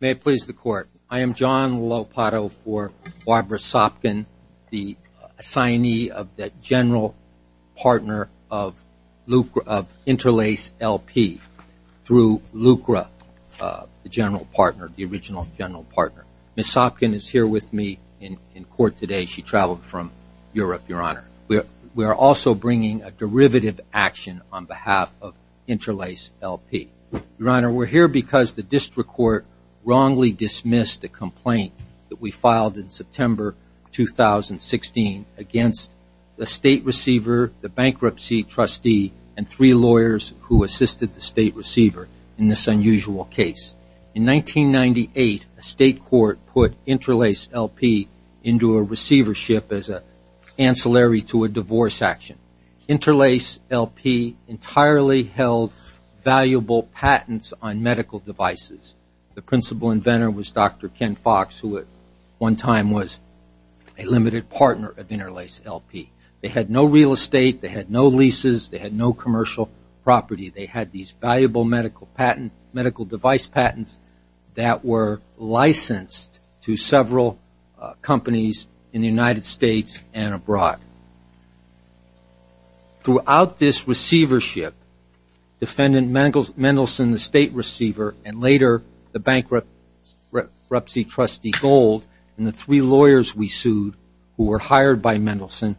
May it please the Court, I am John Lopato for Barbara Sopkin, the assignee of the General Partner of Interlace LP through Lucra, the General Partner, the original General Partner. Ms. Sopkin is here with me in court today. She traveled from Europe, Your Honor. We are also bringing a derivative action on behalf of Interlace LP. Your Honor, we're here because the district court wrongly dismissed a complaint that we filed in September 2016 against the state receiver, the bankruptcy trustee, and three lawyers who assisted the state receiver in this unusual case. In 1998, a state court put Interlace LP into a receivership as an The principal inventor was Dr. Ken Fox, who at one time was a limited partner of Interlace LP. They had no real estate. They had no leases. They had no commercial property. They had these valuable medical device patents that were licensed to several companies in the United States and abroad. Throughout this receivership, Defendant Mendelson, the state court, later the bankruptcy trustee Gold, and the three lawyers we sued who were hired by Mendelson,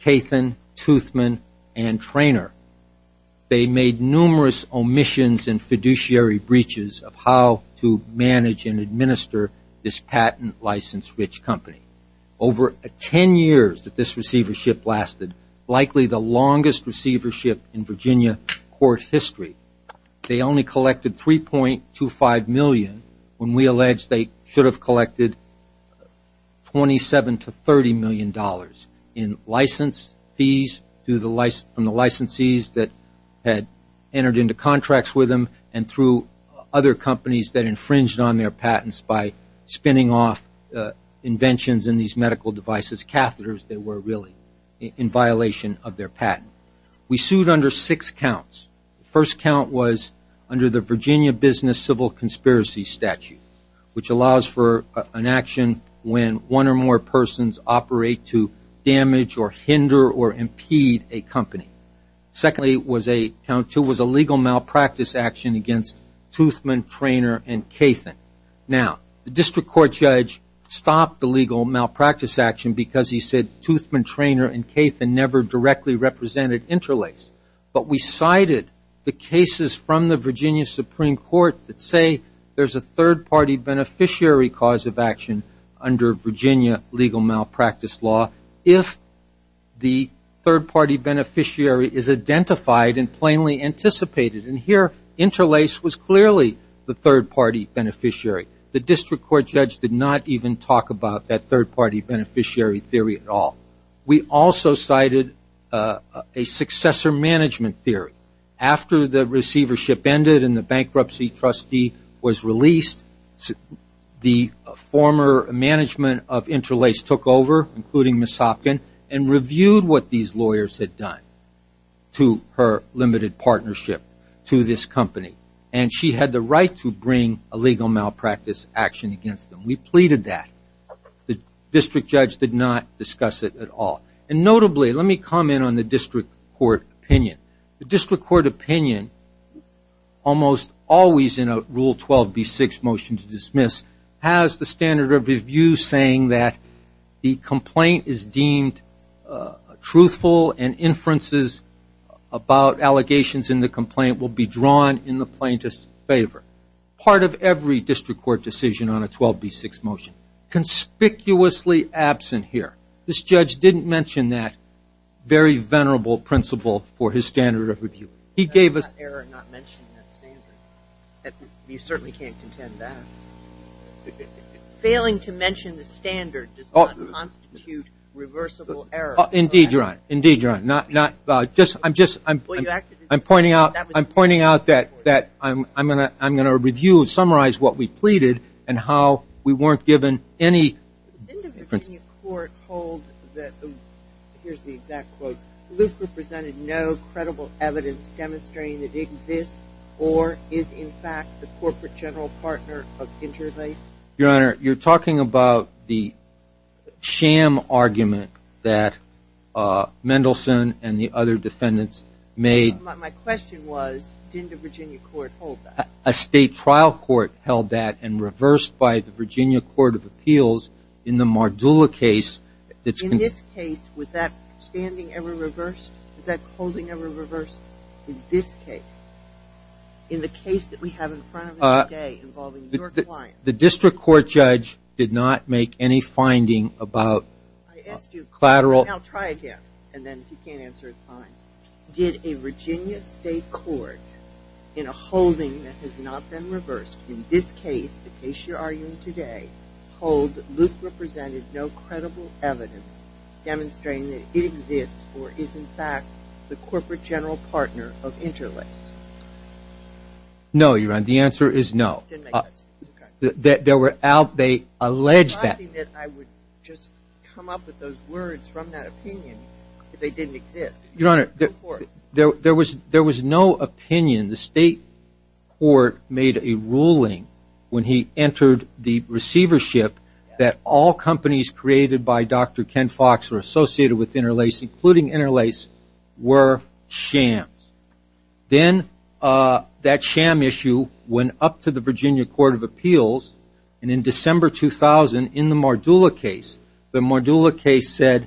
Kathan, Toothman, and Traynor, they made numerous omissions and fiduciary breaches of how to manage and administer this patent-licensed rich company. Over ten years that this receivership lasted, likely the longest receivership in Virginia court history, they only collected $3.25 million when we alleged they should have collected $27 to $30 million in license fees from the licensees that had entered into contracts with them and through other companies that infringed on their patents by spinning off inventions in these medical devices, catheters that were really in violation of their patent. We sued under six counts. The first count was under the Virginia Business Civil Conspiracy Statute, which allows for an action when one or more persons operate to damage or hinder or impede a company. Secondly, count two was a legal malpractice action against Toothman, Traynor, and Kathan. Now, the district court judge stopped the legal malpractice action because he said Toothman, Traynor, and Kathan never directly represented Interlace, but we cited the cases from the Virginia Supreme Court that say there's a third-party beneficiary cause of action under Virginia legal malpractice law if the third-party beneficiary is identified and plainly anticipated. Here, Interlace was clearly the third-party beneficiary. The district court judge did not even talk about that third-party beneficiary theory at all. We also cited a successor management theory. After the receivership ended and the bankruptcy trustee was released, the former management of Interlace took over, including Ms. Hopkin, and reviewed what these lawyers had done to her limited partnership to this company. She had the right to bring a legal malpractice action against them. We pleaded that. The district judge did not discuss it at all. Notably, let me comment on the district court opinion. The district court opinion, almost always in a Rule 12b6 motion to dismiss, has the standard of review saying that the complaint is deemed truthful and inferences about allegations in the complaint will be drawn in the plaintiff's favor. Part of every district court decision on a 12b6 motion. Conspicuously absent here. This judge didn't mention that very venerable principle for his standard of review. He gave us... You certainly can't contend that. Failing to mention the standard does not constitute reversible error. Indeed, Your Honor. I'm pointing out that I'm going to review and summarize what we pleaded and how we weren't given any... Did the Virginia court hold that, here's the exact quote, Lucre presented no credible evidence demonstrating that it exists or is in fact the corporate general partner of Interlace? Your Honor, you're talking about the sham argument that Mendelsohn and the other defendants made... My question was, didn't the Virginia court hold that? A state trial court held that and reversed by the Virginia Court of Appeals in the Mardula case... In this case, was that standing ever reversed? Was that holding ever reversed in this case? In the case that we have in front of us today involving your client? The district court judge did not make any finding about collateral... I'll try again and then if you can't answer, it's fine. Did a Virginia state court in a holding that has not been reversed in this case, the case you're arguing today, hold Lucre presented no credible evidence demonstrating that it exists or is in fact the corporate general partner of Interlace? No, Your Honor, the answer is no. They allege that... I would just come up with those words from that opinion if they didn't exist. Your Honor, there was no opinion, the state court made a ruling when he entered the receivership that all companies created by Dr. Ken Fox are associated with Interlace, including Interlace, were shams. Then that sham issue went up to the Virginia Court of Appeals and in December 2000, in the Mardula case, the Mardula case said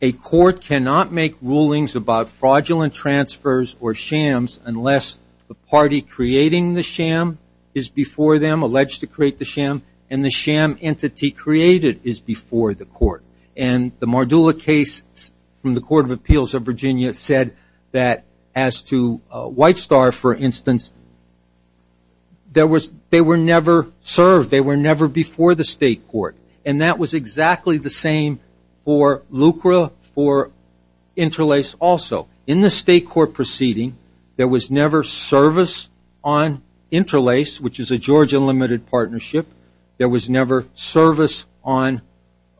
a court cannot make rulings about fraudulent transfers or shams unless the party creating the sham is before them, alleged to create the sham, and the sham entity created is before the court. The Mardula case from the Court of Appeals of Virginia said that as to White Star, for instance, they were never served, they were never before the state court. That was exactly the same for Lucre, for Interlace also. In the state court proceeding, there was never service on Interlace, which is a Georgia limited partnership, there was never service on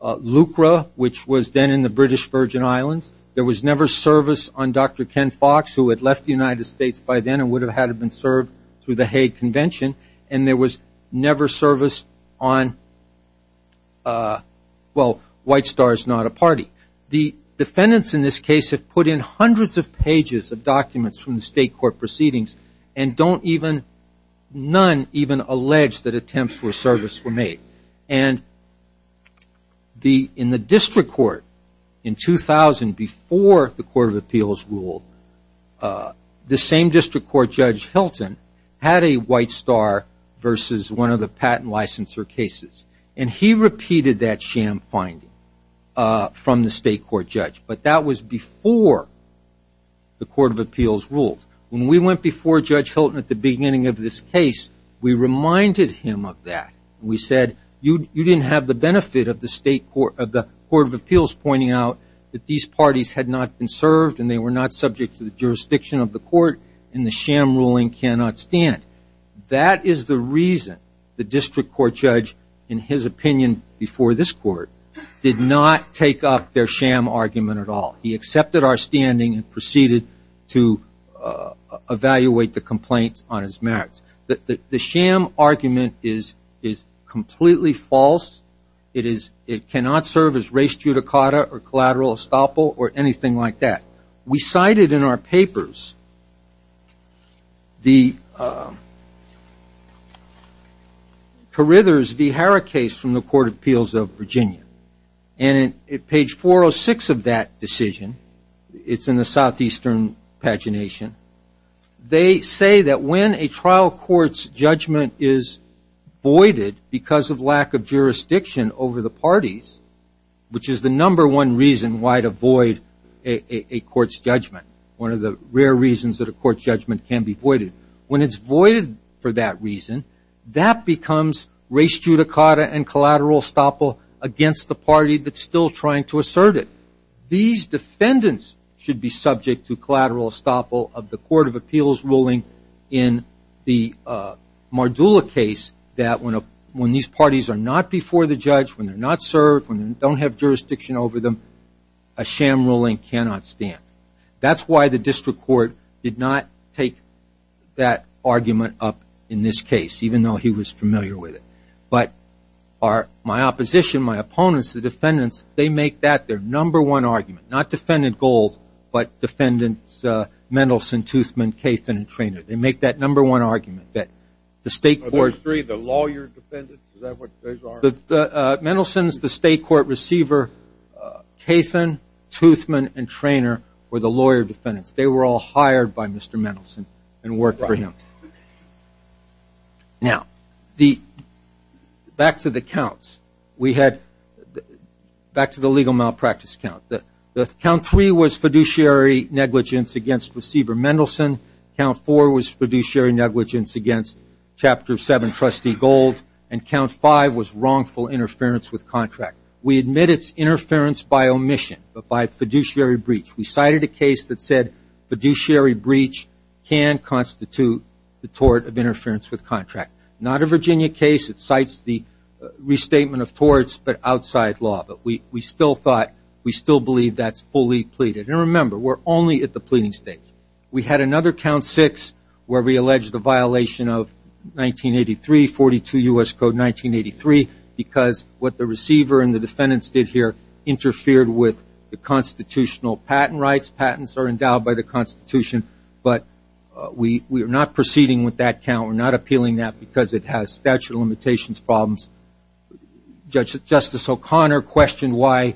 Lucre, which was then in the British Virgin Islands, there was never service on Dr. Ken Fox, who had left the United States by then and would have had been served through the Hague Convention, and there was never service on, well, White Star is not a party. The defendants in this case have put in hundreds of pages of documents from the state court proceedings, and none even allege that attempts for service were made. In the district court in 2000, before the Court of Appeals ruled, the same district court judge, Hilton, had a White Star versus one of the patent licensure cases, and he repeated that sham finding from the state court judge, but that was before the Court of Appeals ruled. When we went before Judge Hilton at the beginning of this case, we reminded him of that. We said, you didn't have the benefit of the Court of Appeals pointing out that these parties had not been served and they were not subject to the jurisdiction of the court, and the sham ruling cannot stand. That is the reason the district court judge, in his opinion before this court, did not take up their sham argument at all. He accepted our standing and proceeded to evaluate the complaints on his merits. The sham argument is completely false. It cannot serve as race judicata or collateral estoppel or anything like that. We cited in our papers the Carithers v. Harra case from the Court of Appeals of Virginia. On page 406 of that decision, it's in the southeastern pagination, they say that when a trial court's judgment is voided because of lack of jurisdiction over the parties, which is the number one reason why to void a court's judgment, one of the rare reasons that a court's judgment can be voided, when collateral estoppel against the party that's still trying to assert it. These defendants should be subject to collateral estoppel of the Court of Appeals ruling in the Mardula case that when these parties are not before the judge, when they're not served, when they don't have jurisdiction over them, a sham ruling cannot stand. That's why the district court did not take that argument up in this case, even though he was familiar with it. My opposition, my opponents, the defendants, they make that their number one argument. Not Defendant Gold, but Defendants Mendelson, Toothman, Cathan, and Traynor. They make that number one argument that the state court... Are those three the lawyer defendants? Is that what those are? Mendelson's the state court receiver. Cathan, Toothman, and Traynor were the lawyer defendants. They were all hired by Mr. Mendelson and worked for him. Back to the counts. Back to the legal malpractice count. The count three was fiduciary negligence against receiver Mendelson. Count four was fiduciary negligence against chapter seven trustee Gold, and count five was wrongful interference with contract. We admit it's fiduciary breach can constitute the tort of interference with contract. Not a Virginia case that cites the restatement of torts, but outside law. We still believe that's fully pleaded. Remember, we're only at the pleading stage. We had another count six where we allege the violation of 1983, 42 U.S. Code 1983, because what the receiver and the defendants did here interfered with the constitutional patent rights. Patents are endowed by the Constitution, but we are not proceeding with that count. We're not appealing that because it has statute of limitations problems. Justice O'Connor questioned why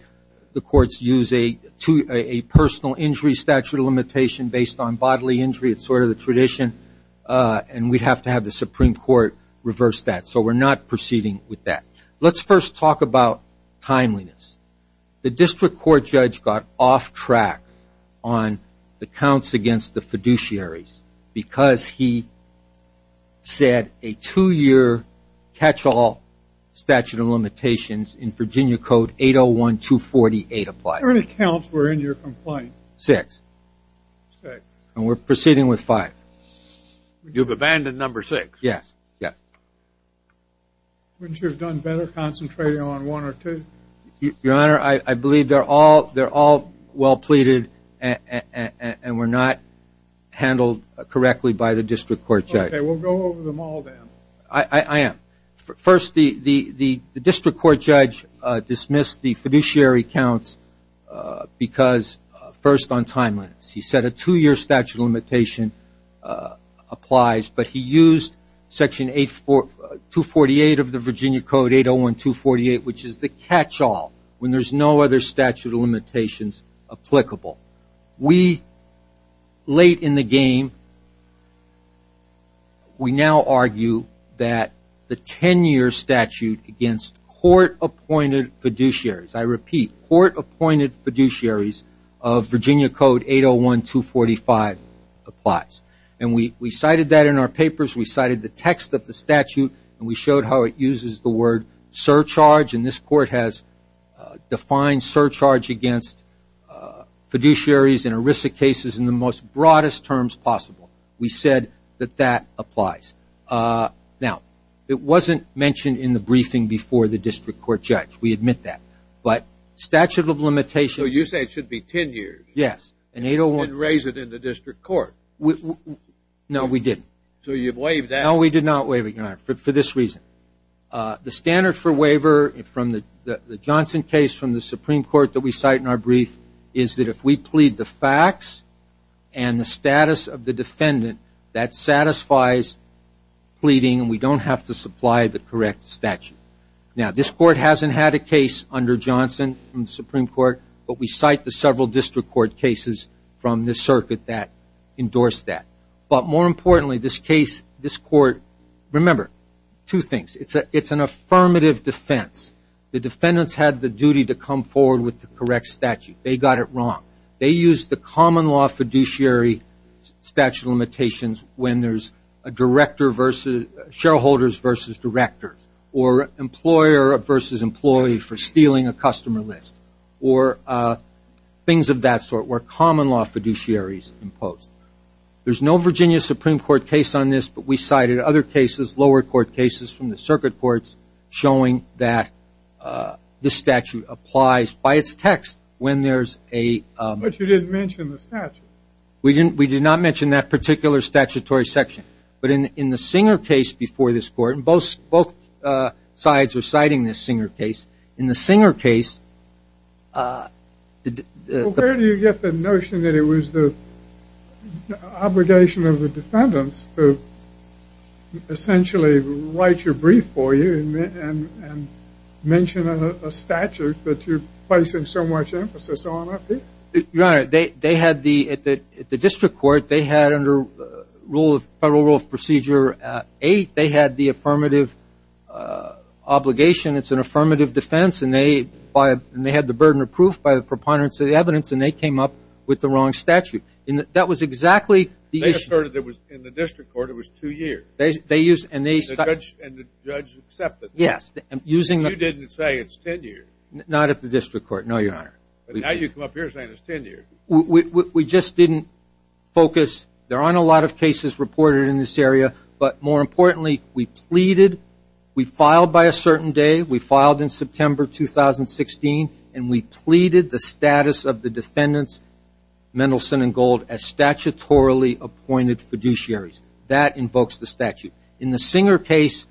the courts use a personal injury statute of limitation based on bodily injury. It's sort of the tradition, and we'd have to have the Supreme Court reverse that, so we're not proceeding with that. Let's first talk about timeliness. The district court judge got off track on the counts against the fiduciaries because he said a two-year catch-all statute of limitations in Virginia Code 801, 248 applies. How many counts were in your complaint? Six. We're proceeding with five. You've abandoned number six. Yes. Wouldn't you have done better concentrating on one or two? Your Honor, I believe they're all well pleaded and were not handled correctly by the district court judge. Okay, we'll go over them all then. I am. First, the district court judge dismissed the fiduciary counts because, first, on timeliness. He said a two-year statute of limitation applies, but he used Section 248 of the Virginia Code 801, 248, which is the catch-all when there's no other statute of limitations applicable. Late in the game, we now argue that the ten-year statute against court-appointed fiduciaries, I repeat, court-appointed fiduciaries of Virginia Code 801, 245 applies. We cited that in our papers. We cited the text of the statute, and we showed how it uses the word surcharge. This court has defined surcharge against fiduciaries and erisic cases in the most broadest terms possible. We said that that applies. Now, it wasn't mentioned in the briefing before the district court judge. We admit that. But statute of limitations So you say it should be ten years. Yes, and 801 And raise it in the district court. No, we didn't. So you've waived that. No, we did not waive it, Your Honor, for this reason. The standard for waiver from the Johnson case from the Supreme Court that we cite in our brief is that if we plead the facts and the status of the defendant, that satisfies pleading, and we don't have to supply the correct statute. Now this court hasn't had a case under Johnson from the Supreme Court, but we cite the several district court cases from this circuit that endorsed that. But more importantly, this case, this court, remember, two things. It's an affirmative defense. The defendants had the duty to come forward with the correct statute. They got it wrong. They used the common law fiduciary statute of limitations when there's a director versus shareholders versus directors, or employer versus employee for stealing a customer list, or things of that sort where common law fiduciaries imposed. There's no Virginia Supreme Court case on this, but we cited other cases, lower court cases from the circuit courts showing that this statute applies by its text when there's a But you didn't mention the statute. We did not mention that particular statutory section. But in the Singer case before this court, and both sides are citing this Singer case, in the Singer case, Where do you get the notion that it was the obligation of the defendants to essentially write your brief for you and mention a statute that you're placing so much emphasis on? Your Honor, at the district court, they had under Federal Rule of Procedure 8, they had the affirmative obligation. It's an affirmative defense. And they had the burden of proof by the preponderance of the evidence, and they came up with the wrong statute. That was exactly the issue. They asserted it was in the district court. It was two years. And the judge accepted it. You didn't say it's 10 years. Not at the district court, no, Your Honor. Now you come up here saying it's 10 years. We just didn't focus. There aren't a lot of cases reported in this area. But more importantly, we pleaded. We filed by a certain day. We filed in September 2016, and we pleaded the status of the defendants Mendelson and Gold as statutorily appointed fiduciaries. That invokes the statute. In the Singer case,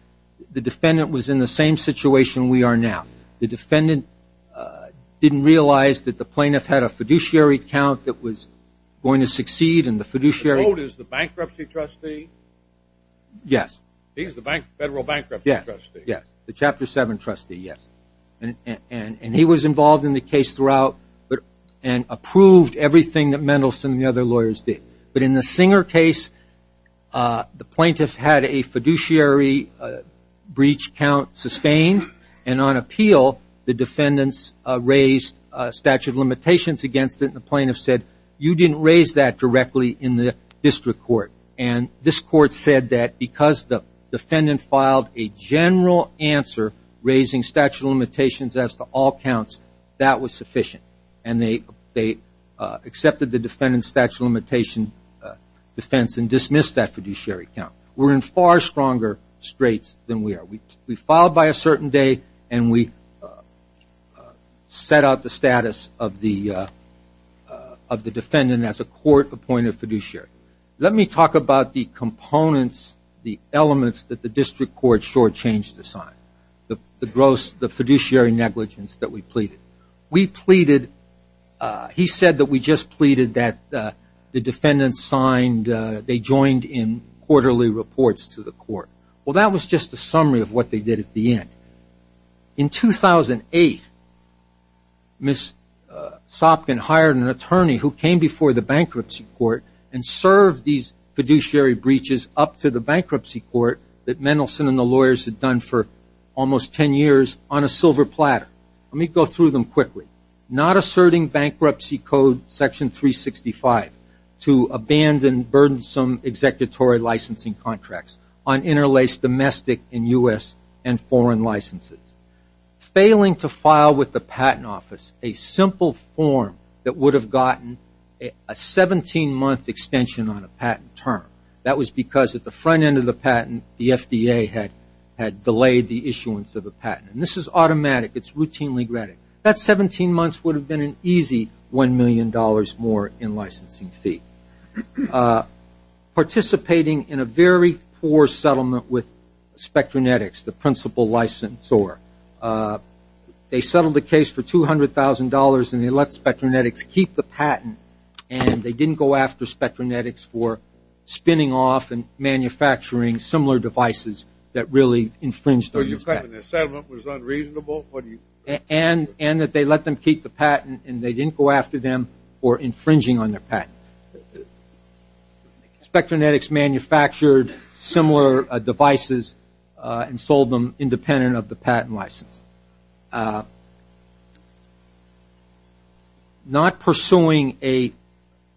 the defendant was in the same situation we are now. The defendant didn't realize that the plaintiff had a fiduciary account that was going to succeed, and the fiduciary- Gold is the bankruptcy trustee? Yes. He's the federal bankruptcy trustee? Yes. The Chapter 7 trustee, yes. And he was involved in the case throughout and approved everything that Mendelson and the other lawyers did. But in the Singer case, the plaintiff had a fiduciary breach count sustained, and on appeal, the defendants raised statute of limitations against it, and the plaintiff said, you didn't raise that directly in the district court. And this court said that because the defendant filed a general answer raising statute of limitations as to all counts, that was sufficient. And they accepted the defendant's statute of limitations defense and dismissed that fiduciary count. We're in far stronger straits than we are. We filed by a certain day, and we set out the status of the defendant as a court-appointed fiduciary. Let me talk about the components, the elements that the district court shortchanged to sign, the fiduciary negligence that we pleaded. We pleaded, he said that we just pleaded that the defendants signed, they joined in quarterly reports to the court. Well, that was just a summary of what they did at the end. In 2008, Ms. Sopkin hired an attorney who came before the bankruptcy court and served these fiduciary breaches up to the bankruptcy court that Mendelson and the lawyers had done for almost 10 years on a silver platter. Let me go through them quickly. Not asserting bankruptcy code section 365 to abandon burdensome executory licensing contracts on interlaced domestic and U.S. and foreign licenses. Failing to file with the patent office a simple form that would have gotten a 17-month extension on a patent term. That was because at the front end of the patent, the FDA had delayed the issuance of a patent. This is automatic. It's routinely granted. That 17 months would have been an easy $1 million more in licensing fee. Participating in a very poor settlement with Spectranetics, the principal licensor, they settled the case for $200,000 and they let Spectranetics keep the patent and they didn't go after Spectranetics for spinning off and manufacturing similar devices that really infringed on this patent. The settlement was unreasonable? And that they let them keep the patent and they didn't go after them for infringing on their patent. Spectranetics manufactured similar devices and sold them independent of the patent license. Not pursuing a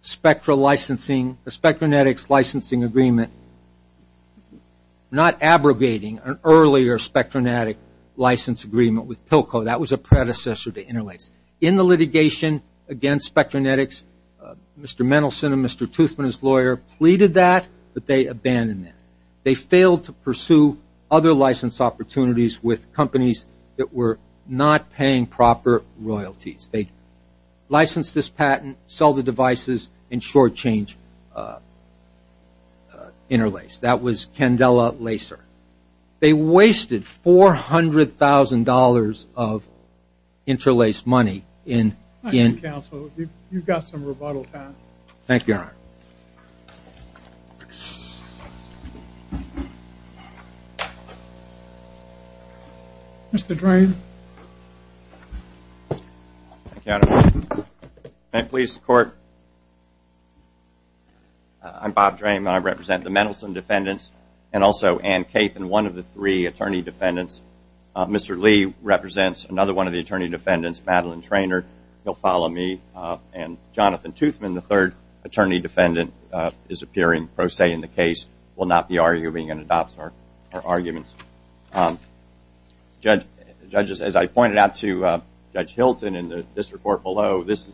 Spectra licensing, a Spectranetics licensing agreement. I'm not abrogating an earlier Spectranetics license agreement with Pilco. That was a predecessor to Interlace. In the litigation against Spectranetics, Mr. Mendelson and Mr. Toothman, his lawyer, pleaded that but they abandoned that. They failed to pursue other license opportunities with companies that were not paying proper royalties. They licensed this patent, sold the devices, and short-changed Interlace. That was Candela Lacer. They wasted $400,000 of Interlace money in... I think counsel, you've got some rebuttal time. Thank you, Your Honor. Mr. Drain. Thank you, Your Honor. May it please the court. I'm Bob Drain. I represent the Mendelson defendants and also Anne Cathan, one of the three attorney defendants. Mr. Lee represents another one of the attorney defendants, Madeline Trainor. You'll follow me. And Jonathan Toothman, the third attorney defendant, is appearing pro se in the case, will not be arguing and adopts our arguments. Judges, as I pointed out to Judge Hilton in the district court below, this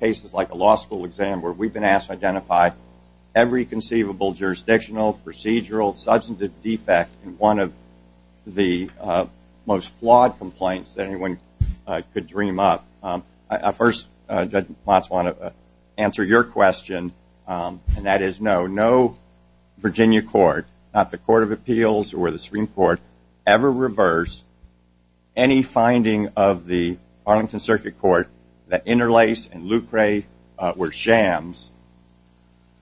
case is like a law school exam where we've been asked to identify every conceivable jurisdictional, procedural, substantive defect in one of the most flawed complaints that anyone could dream up. I first, Judge Matz, want to answer your question, and that is no. No Virginia court, not the Court of Appeals or the Supreme Court, ever reversed any finding of the Arlington Circuit Court that Interlace and Lucre were jams.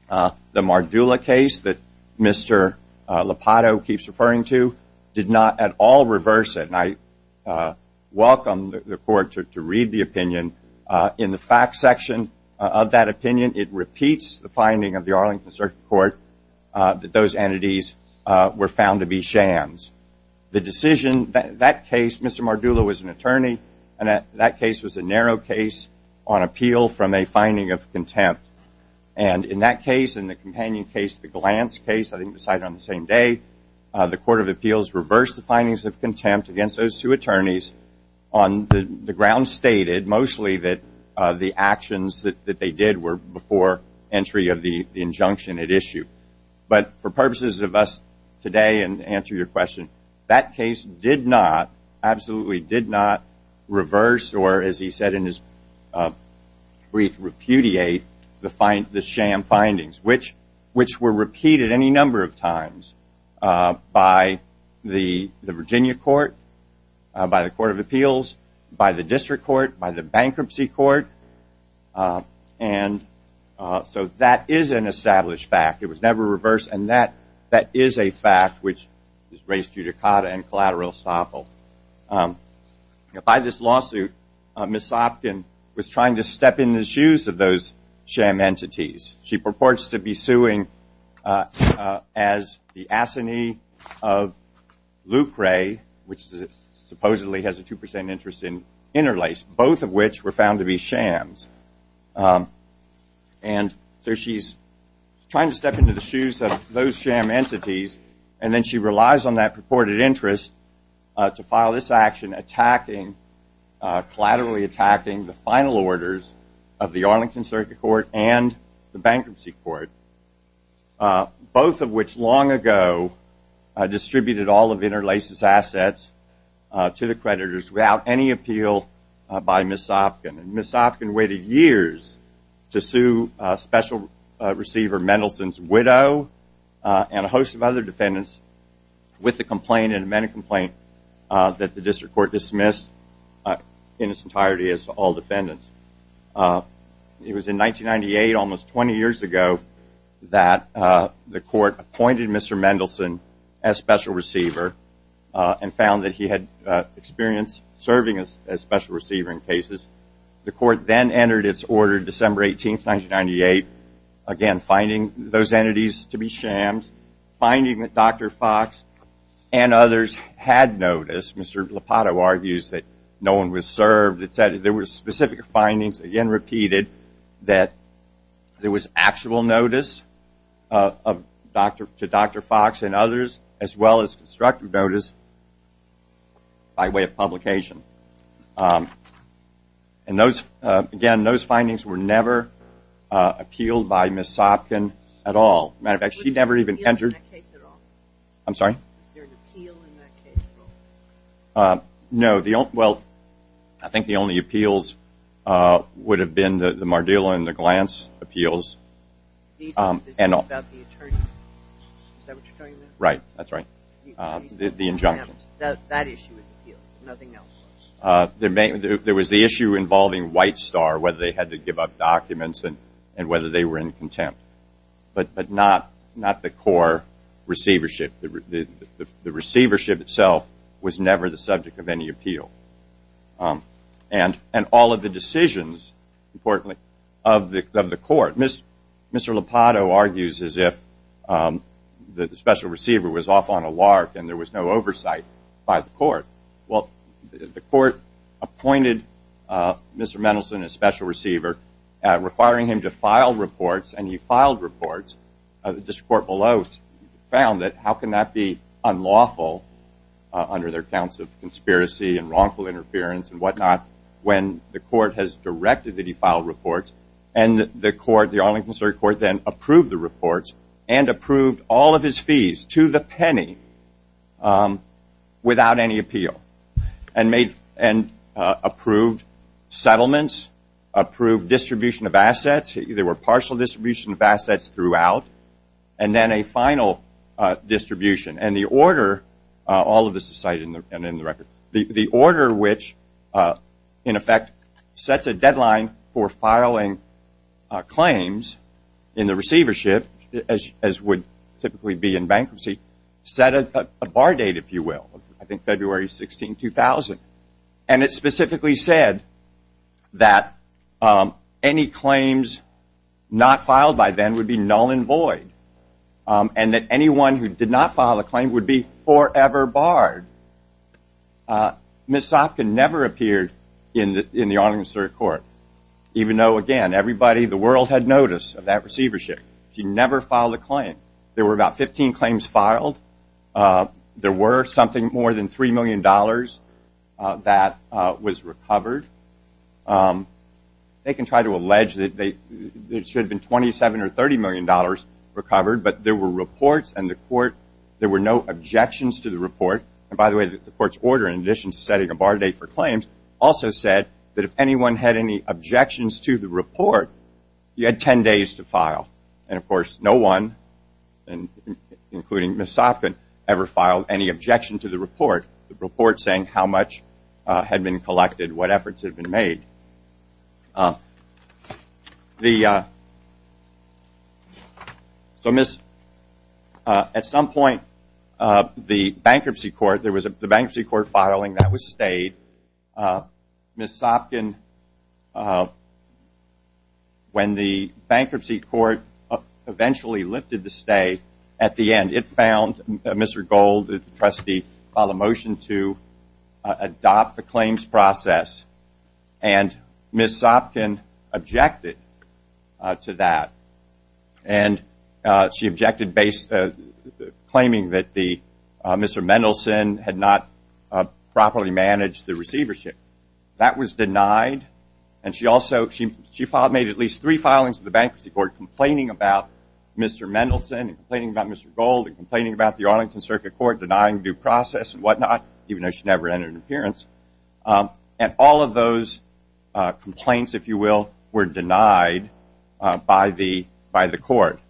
The Mardula case that Mr. Lopato keeps referring to did not at all reverse it, and I welcome the court to read the opinion. In the fact section of that opinion, it repeats the finding of the Arlington Circuit Court that those entities were found to be jams. The decision, that case, Mr. Mardula was an attorney, and that case was a narrow case on appeal from a finding of contempt. And in that case, in the companion case, the Glantz case, I think decided on the same day, the Court of Appeals reversed the findings of contempt against those two attorneys on the grounds stated mostly that the actions that they did were before entry of the injunction at issue. But for purposes of us today and to answer your question, that case did not, absolutely did not reverse or, as he said in his brief repudiate, the sham findings, which were repeated any number of times by the Virginia Court, by the Court of Appeals, by the District Court, by the Bankruptcy Court, and so that is an established fact. It was never reversed and that is a fact which is raised due to Cotta and collateral estoppel. By this lawsuit, Ms. Sopkin was trying to step in the shoes of those sham entities. She purports to be suing as the assignee of Lucre, which supposedly has a 2% interest in Interlace, both of which were found to be shams. And so she's trying to step into the shoes of those sham entities and then she relies on that purported interest to file this action attacking, collaterally attacking the final bankruptcy court, both of which long ago distributed all of Interlace's assets to the creditors without any appeal by Ms. Sopkin. Ms. Sopkin waited years to sue Special Receiver Mendelson's widow and a host of other defendants with a complaint, an amended complaint, that the District Court dismissed in its entirety as all defendants. It was in 1998, almost 20 years ago, that the court appointed Mr. Mendelson as Special Receiver and found that he had experience serving as Special Receiver in cases. The court then entered its order December 18, 1998, again finding those entities to be shams, finding that Dr. Fox and others had noticed, Mr. Lupato argues that no one was served. It said there were specific findings, again repeated, that there was actual notice to Dr. Fox and others as well as constructive notice by way of publication. And again, those findings were never appealed by Ms. Sopkin at all. As a matter of fact, she never even entered – Was there an appeal in that case at all? I'm sorry? I think the only appeals would have been the Mardila and the Glantz appeals. Is that what you're talking about? Right. That's right. The injunctions. That issue was appealed, nothing else. There was the issue involving White Star, whether they had to give up documents and whether they were in contempt, but not the core receivership. The receivership itself was never the subject of any appeal. And all of the decisions, importantly, of the court. Mr. Lupato argues as if the special receiver was off on a lark and there was no oversight by the court. Well, the court appointed Mr. Mendelson as special receiver, requiring him to file reports, and he filed reports. The district court below found that how can that be unlawful under their counts of conspiracy and wrongful interference and whatnot when the court has directed that he file reports. And the court, the Arlington Circuit Court, then approved the reports and approved all of his fees to the penny without any appeal and made – and approved settlements, approved distribution of assets. There were partial distribution of assets throughout. And then a final distribution. And the order – all of this is cited in the record. The order which, in effect, sets a deadline for filing claims in the receivership, as would typically be in bankruptcy, set a bar date, if you will, I think February 16, 2000. And it specifically said that any claims not filed by then would be null and void. And that anyone who did not file a claim would be forever barred. Ms. Sopkin never appeared in the Arlington Circuit Court, even though, again, everybody in the world had notice of that receivership. She never filed a claim. There were about 15 claims filed. There were something more than $3 million that was recovered. They can try to allege that they – it should have been $27 or $30 million recovered. But there were reports and the court – there were no objections to the report. And by the way, the court's order, in addition to setting a bar date for claims, also said that if anyone had any objections to the report, you had 10 days to file. And of course, no one, including Ms. Sopkin, ever filed any objection to the report, the report saying how much had been collected, what efforts had been made. The – so Ms. – at some point, the Bankruptcy Court – there was a Bankruptcy Court filing that was stayed. Ms. Sopkin, when the Bankruptcy Court eventually lifted the stay, at the end, it found Mr. Gold, the trustee, filed a motion to adopt the claims process. And Ms. Sopkin objected to that. And she objected based – claiming that the – Mr. Mendelson had not properly managed the receivership. That was denied. And she also – she filed – made at least three filings to the Bankruptcy Court complaining about Mr. Mendelson and complaining about Mr. Gold and complaining about the Arlington Circuit Court denying due process and whatnot, even though she never entered an appearance. And all of those complaints, if you will, were denied by the court,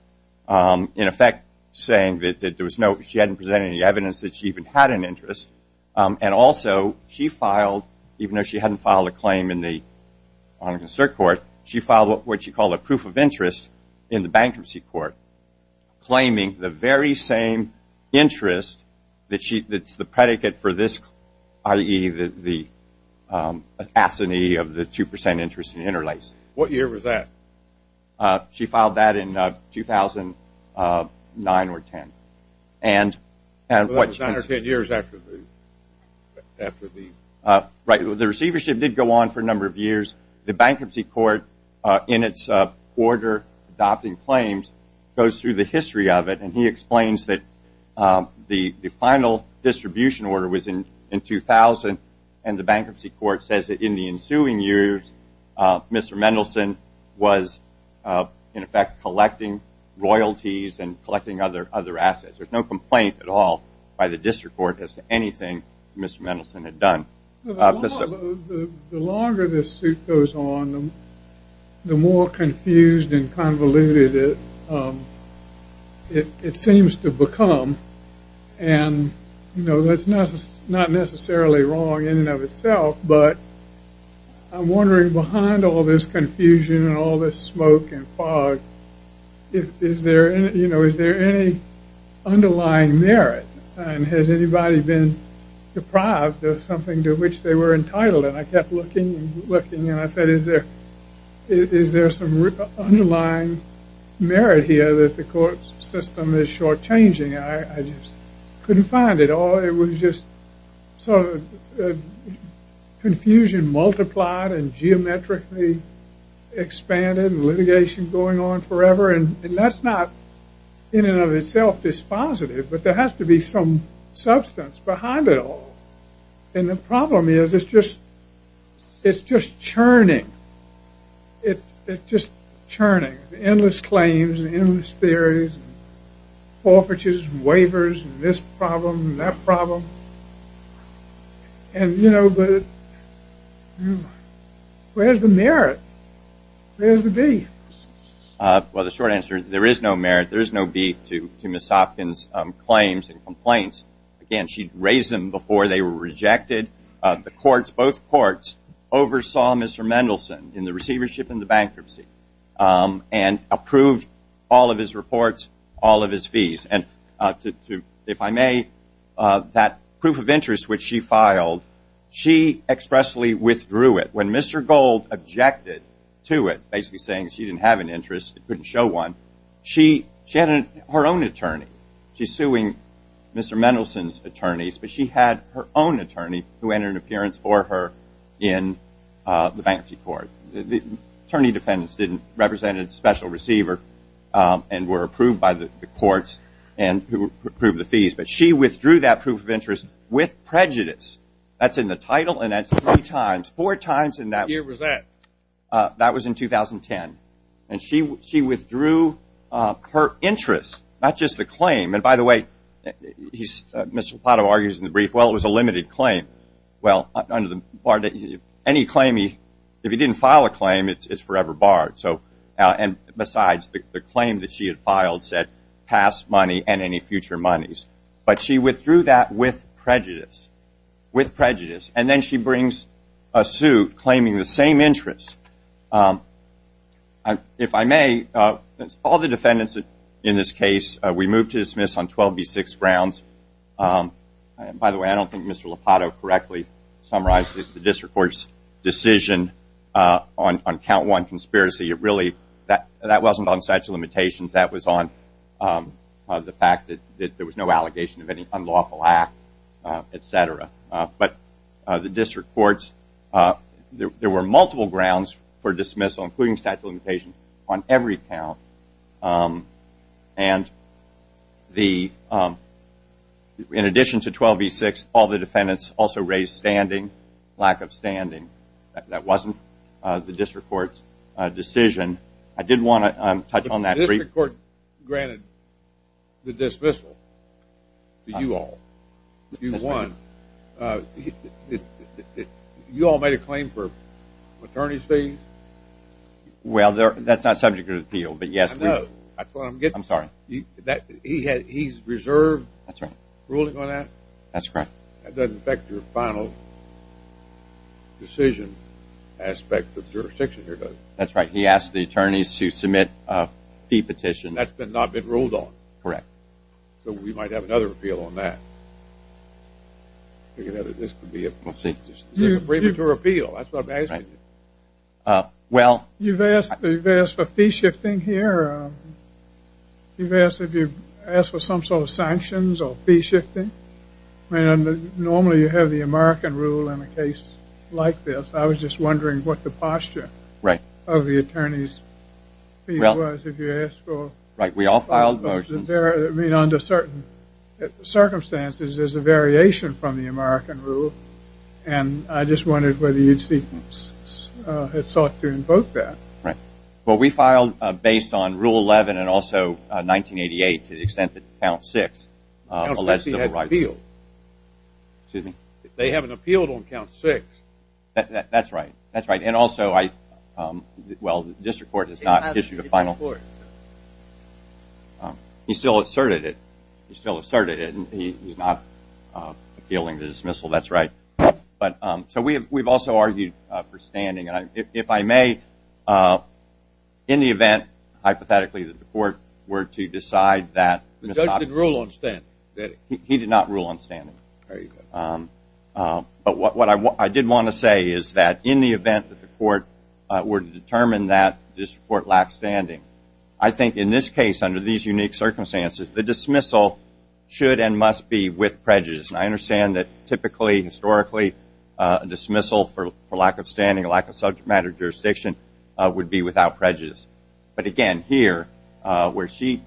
in effect saying that there was no – she hadn't presented any evidence that she even had an interest. And also, she filed – even though she hadn't filed a claim in the Arlington Circuit Court, she filed what she called a proof of interest in the Bankruptcy Court, claiming the very same interest that she – that's the predicate for this, i.e., the asinine of the 2 percent interest in interlacing. What year was that? She filed that in 2009 or 10. And what – So that was nine or ten years after the – after the – Right. Well, the receivership did go on for a number of years. The Bankruptcy Court, in its order adopting claims, goes through the history of it. And he explains that the final distribution order was in 2000, and the Bankruptcy Court says that in the ensuing years, Mr. Mendelson was, in effect, collecting royalties and collecting other assets. There's no complaint at all by the District Court as to anything Mr. Mendelson had done. So the longer this suit goes on, the more confused and convoluted it seems to become. And, you know, that's not necessarily wrong in and of itself, but I'm wondering, behind all this confusion and all this smoke and fog, is there any – you know, is there any to which they were entitled? And I kept looking and looking, and I said, is there – is there some underlying merit here that the court's system is shortchanging, and I just couldn't find it. Or it was just sort of confusion multiplied and geometrically expanded and litigation going on forever. And that's not in and of itself dispositive, but there has to be some substance behind it all. And the problem is, it's just – it's just churning. It's just churning, endless claims and endless theories and forfeitures and waivers and this problem and that problem. And you know, but where's the merit? Where's the beef? Well, the short answer is, there is no merit, there is no beef to Ms. Hopkins' claims and complaints. Again, she'd raised them before they were rejected. The courts, both courts, oversaw Mr. Mendelson in the receivership and the bankruptcy and approved all of his reports, all of his fees. And to – if I may, that proof of interest which she filed, she expressly withdrew it. When Mr. Gold objected to it, basically saying she didn't have an interest, couldn't show one, she had her own attorney. She's suing Mr. Mendelson's attorneys, but she had her own attorney who entered an appearance for her in the bankruptcy court. Attorney defendants didn't represent a special receiver and were approved by the courts and who approved the fees, but she withdrew that proof of interest with prejudice. That's in the title and that's three times, four times in that – What year was that? That was in 2010. And she withdrew her interest, not just the claim. And by the way, he's – Mr. Lopato argues in the brief, well, it was a limited claim. Well, under the – any claim he – if he didn't file a claim, it's forever barred. So – and besides, the claim that she had filed said past money and any future monies. But she withdrew that with prejudice, with prejudice. And then she brings a suit claiming the same interest. If I may, all the defendants in this case, we move to dismiss on 12B6 grounds. By the way, I don't think Mr. Lopato correctly summarized the district court's decision on count one conspiracy. It really – that wasn't on statute of limitations. That was on the fact that there was no allegation of any unlawful act, et cetera. But the district court's – there were multiple grounds for dismissal, including statute of limitations, on every count. And the – in addition to 12B6, all the defendants also raised standing, lack of standing. That wasn't the district court's decision. I did want to touch on that brief – granted the dismissal to you all. You won. You all made a claim for attorney's fees? Well, they're – that's not subject to appeal, but yes, we – I know. That's what I'm getting at. I'm sorry. He had – he's reserved ruling on that? That's correct. That doesn't affect your final decision aspect of jurisdiction here, does it? That's right. He asked the attorneys to submit a fee petition. That's not been ruled on. Correct. So we might have another appeal on that. This could be a – Let's see. This is a premature appeal. That's what I'm asking. Right. Well – You've asked for fee shifting here. You've asked if you – asked for some sort of sanctions or fee shifting. I mean, normally you have the American rule in a case like this. Right. – of the attorneys' fee was if you asked for – Well – Right. We all filed motions – But there – I mean, under certain circumstances, there's a variation from the American rule, and I just wondered whether you'd seek – had sought to invoke that. Right. Well, we filed based on Rule 11 and also 1988 to the extent that Count 6 – Count 6, he has an appeal. – alleged civil rights. Excuse me? They have an appeal on Count 6. That's right. And also, I – well, the district court has not issued a final – It has to be the district court. He still asserted it. He still asserted it. And he's not appealing to dismissal. That's right. But – so we have – we've also argued for standing. And I – if I may, in the event, hypothetically, that the court were to decide that – The judge did rule on standing. He did not rule on standing. There you go. But what I did want to say is that in the event that the court were to determine that the district court lacked standing, I think in this case, under these unique circumstances, the dismissal should and must be with prejudice. And I understand that typically, historically, a dismissal for lack of standing, a lack of subject matter jurisdiction, would be without prejudice. But again, here, where she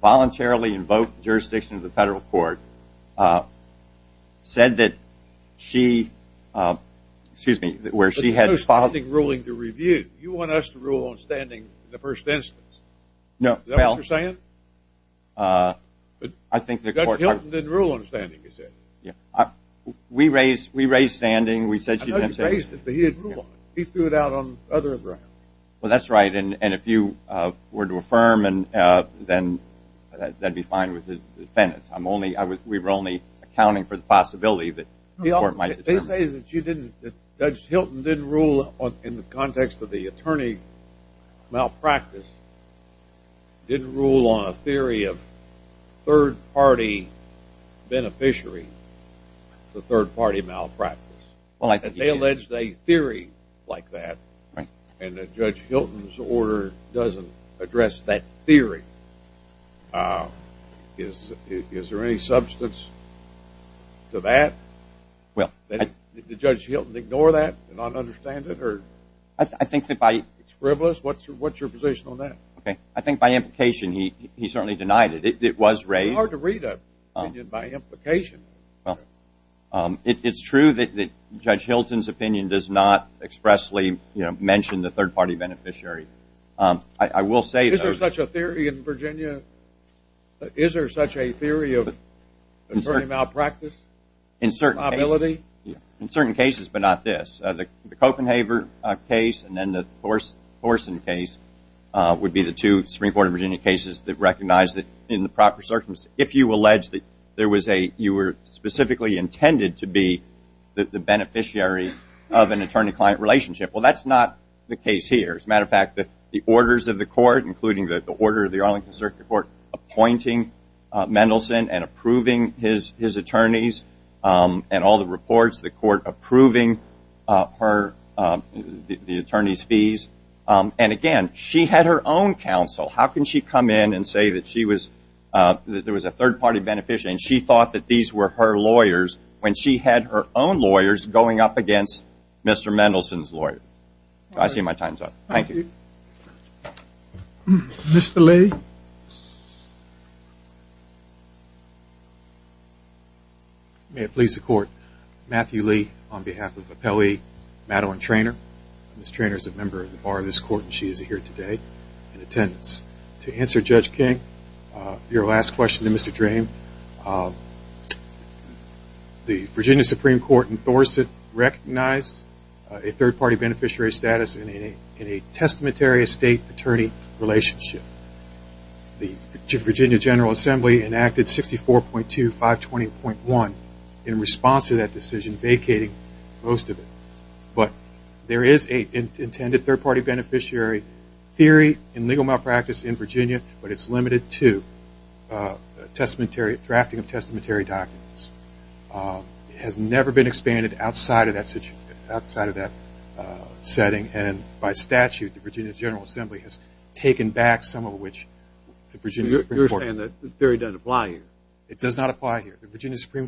voluntarily invoked jurisdiction of the federal court, said that she – excuse me, where she had – But there's no such thing as ruling to review. You want us to rule on standing in the first instance. Is that what you're saying? I think the court – Judge Hilton didn't rule on standing, you said. We raised standing. I know you raised it, but he didn't rule on it. He threw it out on other grounds. Well, that's right. And if you were to affirm, then that'd be fine with the defense. I'm only – we were only accounting for the possibility that the court might – They say that you didn't – that Judge Hilton didn't rule on – in the context of the attorney malpractice, didn't rule on a theory of third-party beneficiary to third-party malpractice. Well, I think he did. They alleged a theory like that, and that Judge Hilton's order doesn't address that theory. Is there any substance to that? Well, I – Did Judge Hilton ignore that and not understand it? I think that by – It's frivolous. What's your position on that? I think by implication, he certainly denied it. It was raised – It's hard to read an opinion by implication. It's true that Judge Hilton's opinion does not expressly mention the third-party beneficiary. I will say – Is there such a theory in Virginia? Is there such a theory of attorney malpractice? In certain cases. Probability? In certain cases, but not this. The Copenhaver case and then the Thorson case would be the two Supreme Court of Virginia cases that recognize that in the proper circumstances, if you allege that there was a – you were specifically intended to be the beneficiary of an attorney-client relationship, well, that's not the case here. As a matter of fact, the orders of the court, including the order of the Arlington Circuit Court appointing Mendelsohn and approving his attorneys and all the reports, the court approving her – the attorney's fees. And again, she had her own counsel. How can she come in and say that she was – that there was a third-party beneficiary and she thought that these were her lawyers when she had her own lawyers going up against Mr. Mendelsohn's lawyer? I see my time's up. Thank you. Thank you. Mr. Lee? May it please the court, Matthew Lee on behalf of Appellee Madeline Traynor. Ms. Traynor is a member of the bar of this court and she is here today in attendance. To answer Judge King, your last question to Mr. Drame, the Virginia Supreme Court in Thorson recognized a third-party beneficiary status in a testamentary estate-attorney relationship. The Virginia General Assembly enacted 64.2520.1 in response to that decision vacating most of it. But there is an intended third-party beneficiary theory in legal malpractice in Virginia but it's limited to drafting of testamentary documents. It has never been expanded outside of that setting and by statute the Virginia General Assembly has taken back some of which the Virginia Supreme Court – You're saying that the theory doesn't apply here. It does not apply here. The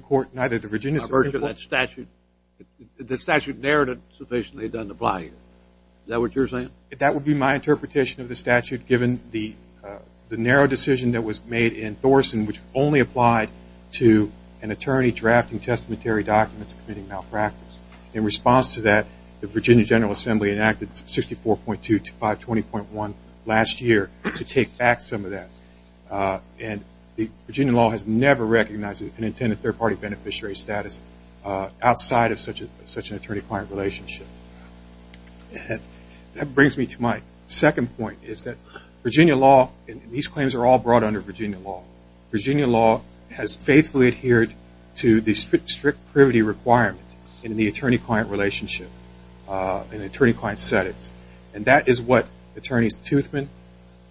statute narrative sufficiently doesn't apply here. Is that what you're saying? That would be my interpretation of the statute given the narrow decision that was made in Thorson which only applied to an attorney drafting testamentary documents committing malpractice. In response to that, the Virginia General Assembly enacted 64.2520.1 last year to take back some of that. And the Virginia law has never recognized an intended third-party beneficiary status outside of such an attorney-client relationship. That brings me to my second point. Virginia law – These claims are all brought under Virginia law. Virginia law has faithfully adhered to the strict privity requirement in the attorney-client relationship in attorney-client settings. And that is what attorneys Toothman,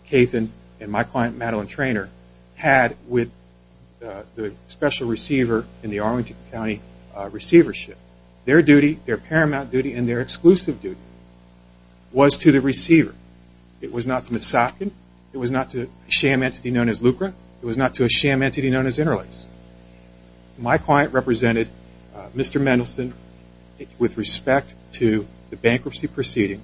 Cathan, and my client Madeline Traynor had with the special receiver in the Arlington County receivership. Their duty, their paramount duty, and their exclusive duty was to the receiver. It was not to Ms. Sopkin. It was not to a sham entity known as Lucra. It was not to a sham entity known as Interlakes. My client represented Mr. Mendelson with respect to the bankruptcy proceeding.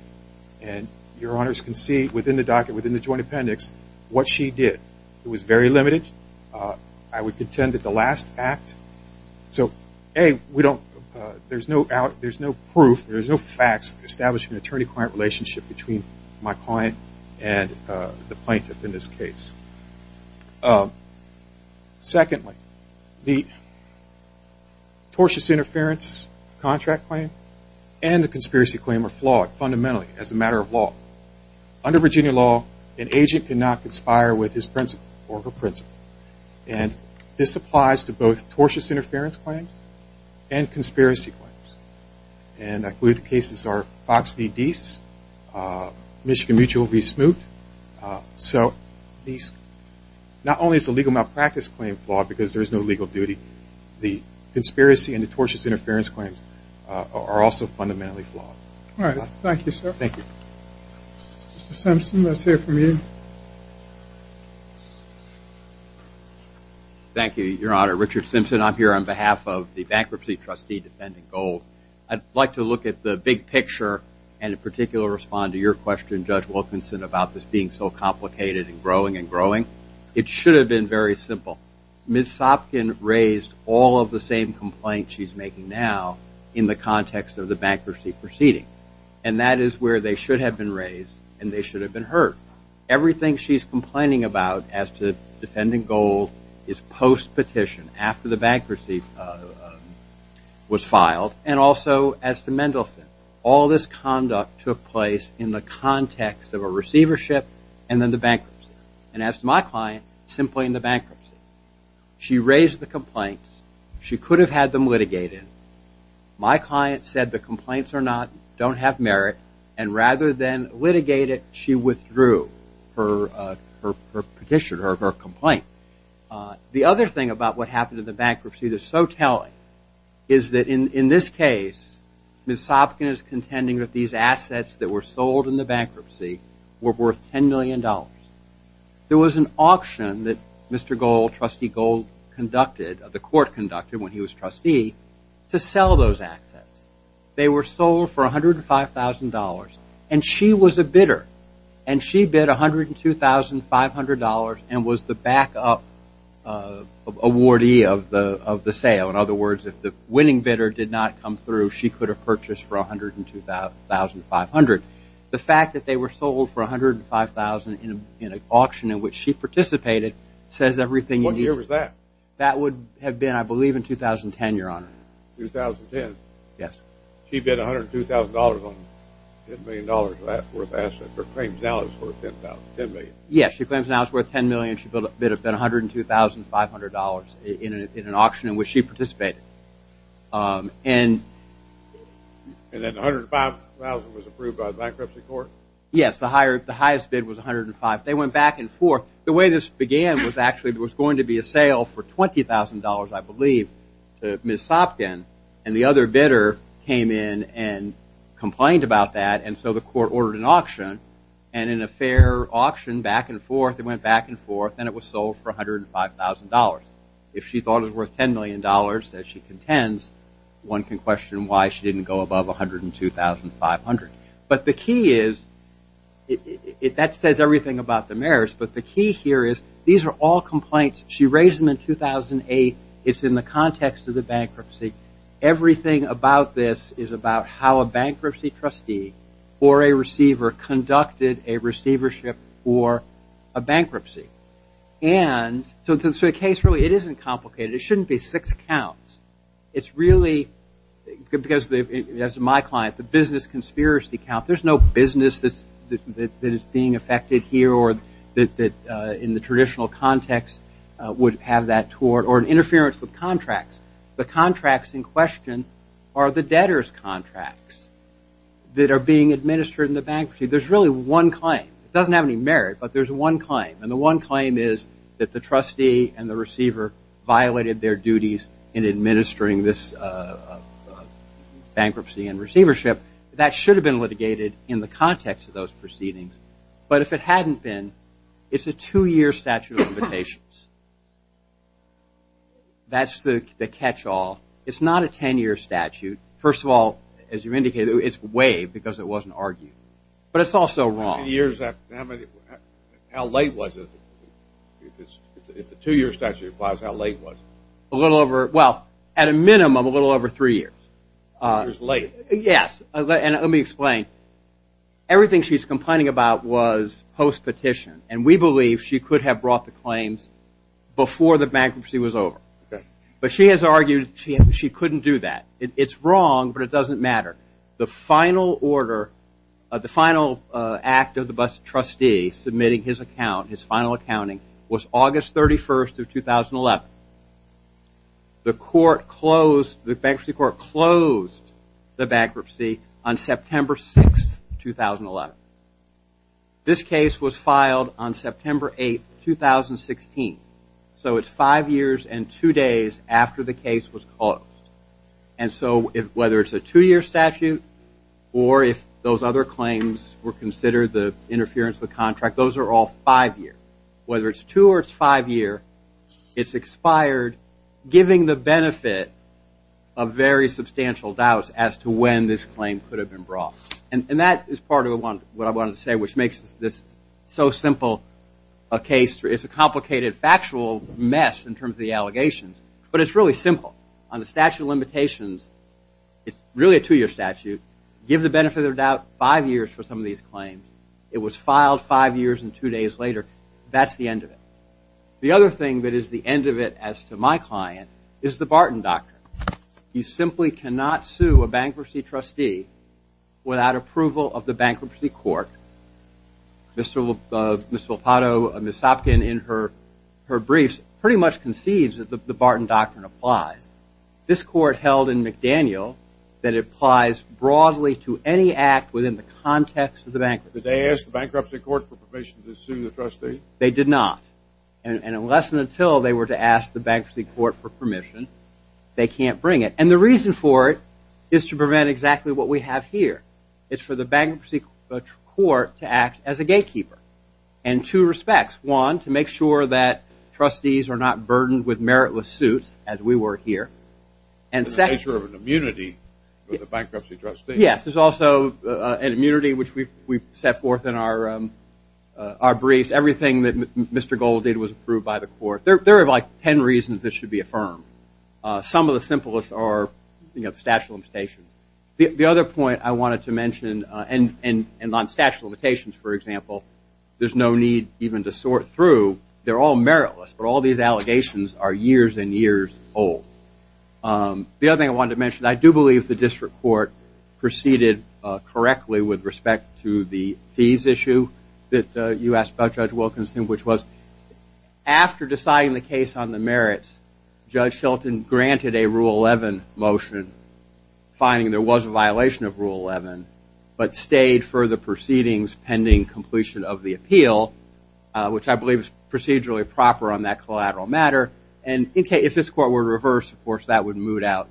And your honors can see within the docket, within the joint appendix, what she did. It was very limited. I would contend that the last act – So, A, we don't – There's no proof, there's no facts establishing an attorney-client relationship between my client and the plaintiff in this case. Secondly, the tortious interference contract claim and the conspiracy claim are flawed fundamentally as a matter of law. Under Virginia law, you cannot conspire with his principle or her principle. And this applies to both tortious interference claims and conspiracy claims. And I believe the cases are Fox v. Dease, Michigan Mutual v. Smoot. So, these – Not only is the legal malpractice claim flawed because there is no legal duty, the conspiracy and the tortious interference claims are also fundamentally flawed. All right. Thank you, sir. Thank you. Thank you, Your Honor. Richard Simpson, I'm here on behalf of the bankruptcy trustee defending gold. I'd like to look at the big picture and in particular respond to your question, Judge Wilkinson, about this being so complicated and growing and growing. It should have been very simple. Ms. Sopkin raised all of the same complaints she's making now in the context of the bankruptcy proceeding. And that is where they should have been raised and they should have been heard. What she's complaining about as to defending gold is post-petition, after the bankruptcy was filed and also as to Mendelson. All this conduct took place in the context of a receivership and then the bankruptcy. And as to my client, simply in the bankruptcy. She raised the complaints. She could have had them litigated. My client said the complaints are not – don't have merit and rather than litigate it, her petition or her complaint. The other thing about what happened in the bankruptcy that's so telling is that in this case, Ms. Sopkin is contending that these assets that were sold in the bankruptcy were worth $10 million. There was an auction that Mr. Gold, Trustee Gold conducted, the court conducted when he was trustee, to sell those assets. She bid $500 and was the back-up awardee of the sale. In other words, if the winning bidder did not come through, she could have purchased for $102,500. The fact that they were sold for $105,000 in an auction says everything you need. What year was that? That would have been, I believe, that would have been 2010, Your Honor. 2010? Yes. She bid $102,000 on $10 million worth of assets or claims now it's worth $10 million? Yes, she claims now it's worth $10 million. She bid $102,500 in an auction in which she participated. And then $105,000 was approved by the bankruptcy court? Yes. The highest bid was $105,000. They went back and forth. The way this began was actually there was going to be a sale for $20,000, I believe, to Ms. Sopkin and the other bidder came in and complained about that and so the court ordered an auction and in a fair auction back and forth it went back and forth and it was sold for $105,000. If she thought it was worth $10 million that she contends, one can question why she didn't go above $102,500. But the key is, these are all complaints she raised them in 2008. It's in the context of the bankruptcy. Everything about this is about how a bankruptcy trustee or a receiver conducted a receivership or a bankruptcy. So the case really, it isn't complicated. It shouldn't be six counts. It's really, because as my client, the business conspiracy count, there's no business that is being affected here or that in the traditional context would have that toward or interference with contracts. The contracts in question are the debtors' contracts that are being administered in the bankruptcy. There's really one claim. It doesn't have any merit but there's one claim and the one claim is that the trustee and the receiver violated their duties in administering this bankruptcy to those proceedings. But if it hadn't been, it's a two-year statute of limitations. That's the catch-all. It's not a ten-year statute. First of all, as you indicated, it's way because it wasn't argued. But it's also wrong. How many years? How late was it? If the two-year statute applies, how late was it? A little over, well, at a minimum, a little over three years. Three years late. Yes, and let me explain. Everything she's complaining about was post-petition and we believe she could have brought the claims before the bankruptcy was over. But she has argued she couldn't do that. It's wrong but it doesn't matter. The final order, the final act of the trustee submitting his account, his final accounting was August 31st of 2011. The court closed, the bankruptcy court closed the bankruptcy on September 6th, 2011. This case was filed on September 8th, 2016. So it's five years and two days after the case was closed. And so whether it's a two-year statute or if those other claims were considered the interference with contract, those are all five years. Whether it's two or it's five years, it's expired giving the benefit of very substantial doubts as to when this claim could have been brought. And that is part of what I wanted to say which makes this so simple a case. It's a complicated factual mess in terms of the allegations but it's really simple. On the statute of limitations, it's really a two-year statute. Give the benefit of the doubt and it's five years and two days later. That's the end of it. The other thing that is the end of it as to my client is the Barton Doctrine. You simply cannot sue a bankruptcy trustee without approval of the bankruptcy court. Ms. Volpato, Ms. Sopkin in her briefs pretty much conceives that the Barton Doctrine applies. This court held in McDaniel that it applies broadly to any act within the context of the bankruptcy. Did they ask the bankruptcy court for permission to sue the trustee? They did not. And unless and until they were to ask the bankruptcy court for permission, they can't bring it. And the reason for it is to prevent exactly what we have here. It's for the bankruptcy court to act as a gatekeeper in two respects. One, to make sure that trustees are not burdened with meritless suits as we were here. And second... The nature of an immunity for the bankruptcy trustee. Yes, there's also an immunity which we've set forth in our briefs. Everything that Mr. Gold did was approved by the court. There are like ten reasons Some of the simplest are the statute of limitations. The other point I wanted to mention I do believe the district court proceeded correctly with respect to the fees issue that you asked about, Judge Wilkinson, which was after deciding the case on the merits, Judge Shelton granted a Rule 11 motion finding there was a violation of Rule 11 but stayed for the proceedings pending completion of the appeal which I don't think I believe is procedurally proper on that collateral matter. And if this court were to reverse of course that would moot out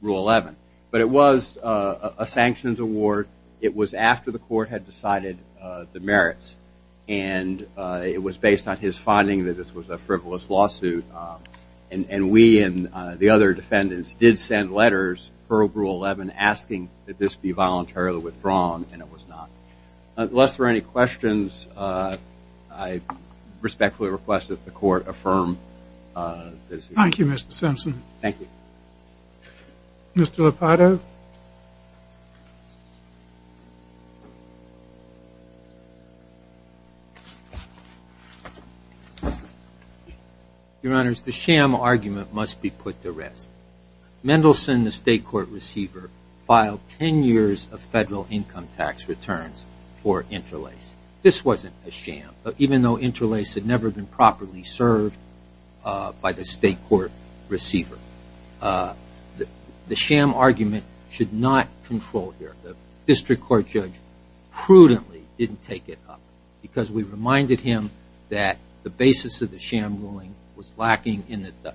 Rule 11. But it was a sanctions award. It was after the court had decided the merits. And it was based on his finding that this was a frivolous lawsuit. And we and the other defendants did send letters per Rule 11 asking that this be voluntarily withdrawn and it was not. Unless there are any questions I respectfully request that the court affirm this. Thank you, Mr. Simpson. Thank you. Mr. Lopato. Your Honors, the sham argument must be put to rest. Mendelsohn, the state court receiver, filed ten years of federal income tax returns for Interlace. This wasn't a sham. Even though Interlace had never been properly served by the state court receiver. The sham argument should not control here. The district court judge prudently didn't take it up because we reminded him that the basis of the sham ruling was lacking in that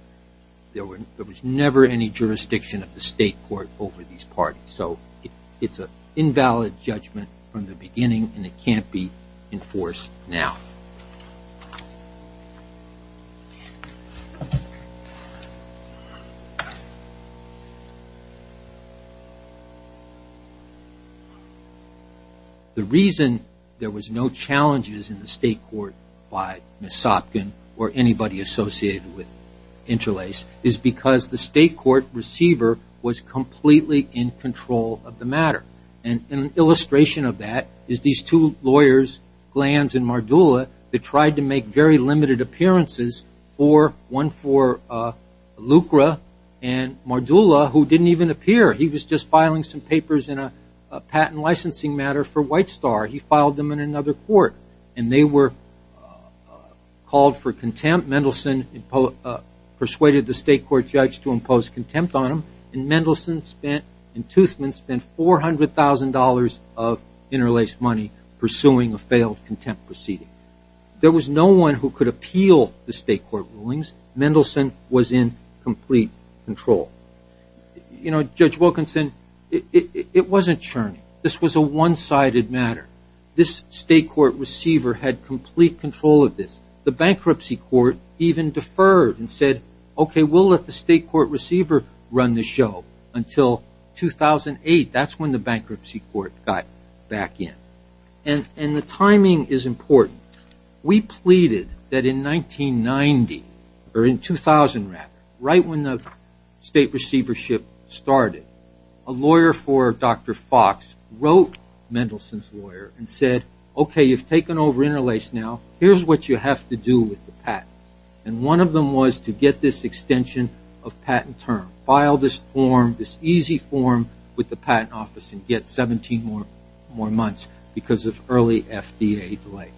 there was never any jurisdiction of the state court over these parties. So it's an invalid judgment in the beginning and it can't be enforced now. The reason there was no challenges in the state court by Ms. Sopkin or anybody associated with Interlace is because the state court receiver was completely in control of the matter. An illustration of that is these two lawyers, Glanz and Mardula, that tried to make very limited appearances one for Lucra and Mardula who didn't even appear. He was just filing some papers in a patent licensing matter for White Star. He filed them in another court and they were called for contempt. Mendelsohn persuaded the state court judge to impose contempt on him for $400,000 of Interlace money pursuing a failed contempt proceeding. There was no one who could appeal the state court rulings. Mendelsohn was in complete control. Judge Wilkinson, it wasn't churning. This was a one-sided matter. This state court receiver had complete control of this. The bankruptcy court even deferred and said we'll let the state court receiver run the show until 2008. That's when the bankruptcy court got back in. The timing is important. We pleaded that in 1990 or in 2000 rather, right when the state receivership started, a lawyer for Dr. Fox wrote Mendelsohn's lawyer and said okay, you've taken over Interlace now. Here's what you have to do with the patents. One of them was to get this extension of patent term. File this easy form with the patent office and get 17 more months because of early FDA delay.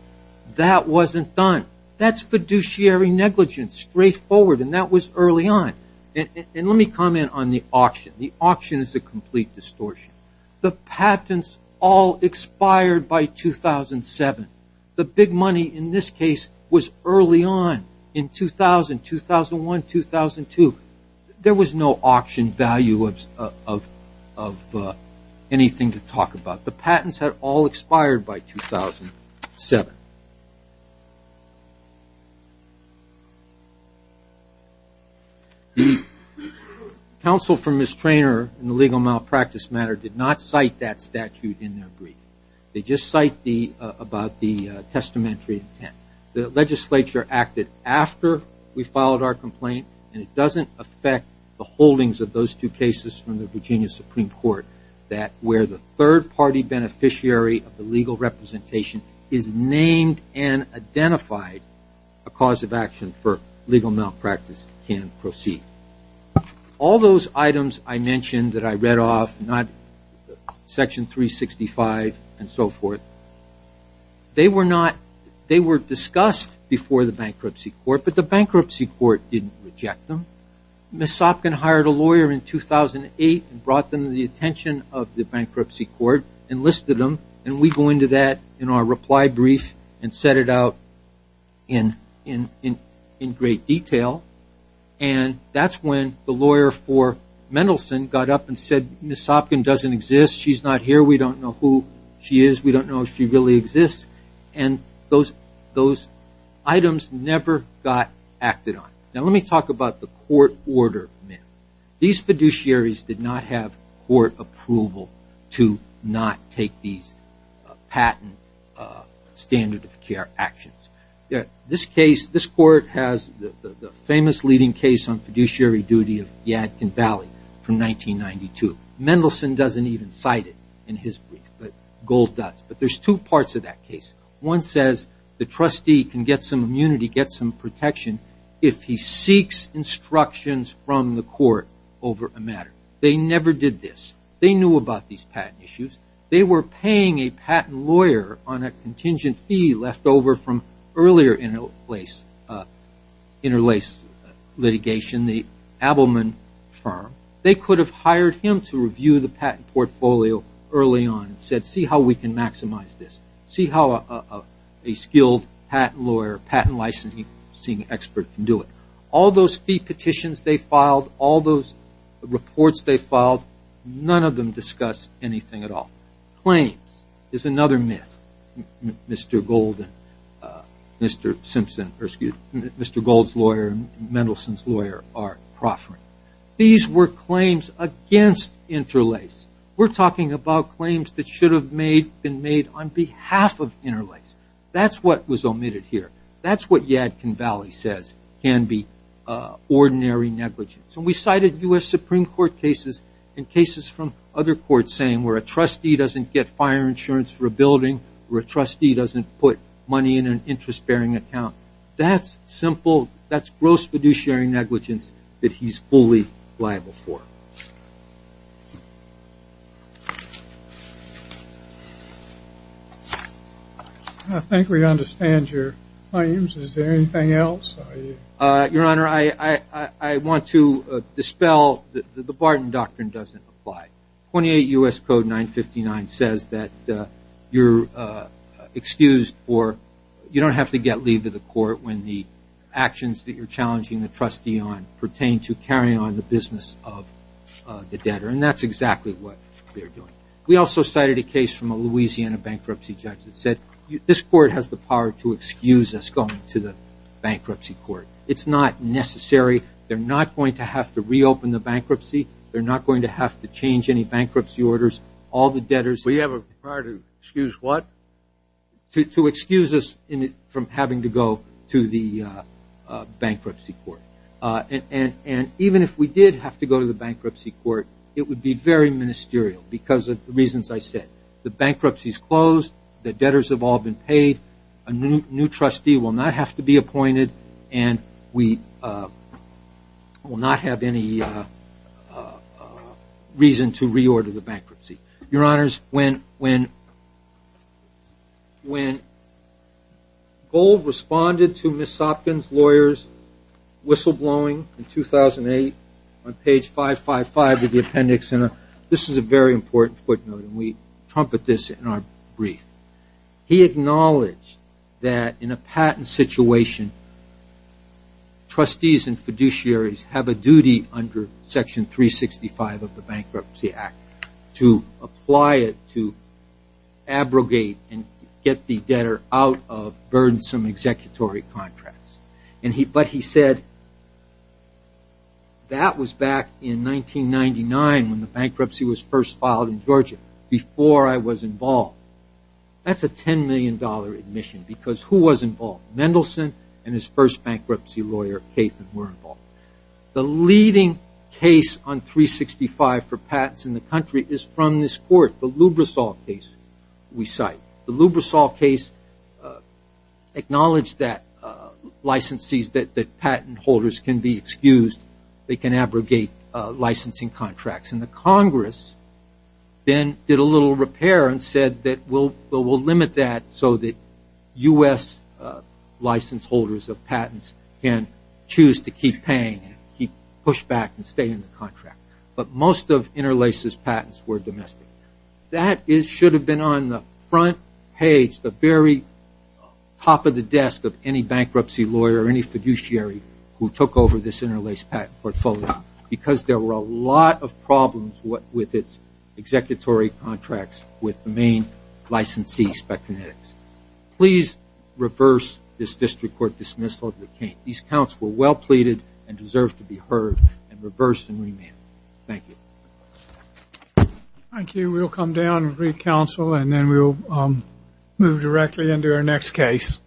That wasn't done. That's fiduciary negligence. Straightforward. That was early on. Let me comment on the auction. The auction is a complete distortion. The patents all expired by 2007. The big money in this case was early on in 2000, 2001, 2002. There's no auction value of anything to talk about. The patents had all expired by 2007. Counsel for Ms. Trainor in the legal malpractice matter did not cite that statute in their brief. They just cite about the testamentary intent. The legislature acted after we filed our complaint on the holdings of those two cases from the Virginia Supreme Court where the third party beneficiary of the legal representation is named and identified a cause of action for legal malpractice can proceed. All those items I mentioned that I read off, section 365 and so forth, they were discussed before the bankruptcy court but the bankruptcy court didn't reject them. We had a lawyer in 2008 and brought them to the attention of the bankruptcy court and listed them and we go into that in our reply brief and set it out in great detail and that's when the lawyer for Mendelson got up and said Ms. Sopkin doesn't exist. She's not here. We don't know who she is. We don't know if she really exists and those items never got acted on. Now let me talk about the court order. These fiduciaries did not have court approval to not take these patent standard of care actions. This case, this court has the famous leading case on fiduciary duty of Yadkin Valley from 1992. Mendelson doesn't even cite it in his brief but Gold does but there's two parts of that case. One says the trustee can get some immunity, get some protection if he seeks instructions from the court over a matter. They never did this. They knew about these patent issues. They were paying a patent lawyer on a contingent fee left over from earlier interlaced litigation in the Abelman firm. They could have hired him to review the patent portfolio early on and said see how we can maximize this. See how a skilled patent lawyer, patent licensing expert can do it. All those fee petitions they filed, all those reports they filed, none of them discuss anything at all. Claims is another myth. Mr. Gold, Mr. Simpson, or excuse me, Mr. Gold's lawyer and Mendelson's lawyer are proffering. These were claims against interlaced. We're talking about claims that should have been made on behalf of interlaced. That's what was omitted here. That's what Yadkin Valley says can be ordinary negligence. We cited U.S. Supreme Court cases and cases from other courts saying where a trustee doesn't get fire insurance for a building, where a trustee doesn't put money in an interest bearing account. That's simple. That's gross fiduciary negligence that he's fully liable for. I think we understand your claims. Is there anything else? Your Honor, I want to dispel the Barton Doctrine doesn't apply. 28 U.S. Code 959 says that you don't have to get leave to the court when the actions that you're challenging the trustee on pertain to carrying on the business of the debtor. That's exactly what we're doing. We also cited a case from a Louisiana bankruptcy judge that said this court has the power to excuse us going to the bankruptcy court. It's not necessary. They're not going to have to reopen the bankruptcy. They're not going to have to change any bankruptcy orders. We have a power to excuse what? To excuse us from having to go to the bankruptcy court. Even if we did have to go to the bankruptcy court, it would be very ministerial because of the reasons I said. The bankruptcy is closed. The debtors have all been paid. A new trustee will not have to be appointed. We will not have any reason to reorder the bankruptcy. Your Honors, when Gold responded to Ms. Sopkins' lawyers whistle blowing in 2008 on page 555 of the appendix, this is a very important footnote and we trumpet this in our brief. He acknowledged that in a patent situation, trustees and fiduciaries have a duty under Section 365 of the Bankruptcy Act to apply it to abrogate and get the debtor out of burdensome executory contracts. But he said, that was back in 1999 when the bankruptcy was first filed in Georgia, before I was involved. That's a $10 million admission because who was involved? Mendelsohn and his first bankruptcy lawyer, David Kathan were involved. The leading case on 365 for patents in the country is from this court, the Lubrosol case we cite. The Lubrosol case acknowledged that licensees that patent holders can be excused, they can abrogate licensing contracts. And the Congress then did a little repair and said that we'll limit that so that U.S. license holders of patents can choose to keep paying, push back and stay in the contract. But most of Interlace's patents were domestic. That should have been on the front page, the very top of the desk of any bankruptcy lawyer or any fiduciary who took over this Interlace patent portfolio because there were a number of patents of Interlace's executory contracts with the main licensee Spectranetics. Please reverse this district court dismissal. These counts were well pleaded and deserve to be heard and reversed and remanded. Thank you. Thank you. We'll come down and read counsel and then we'll move directly into our next case.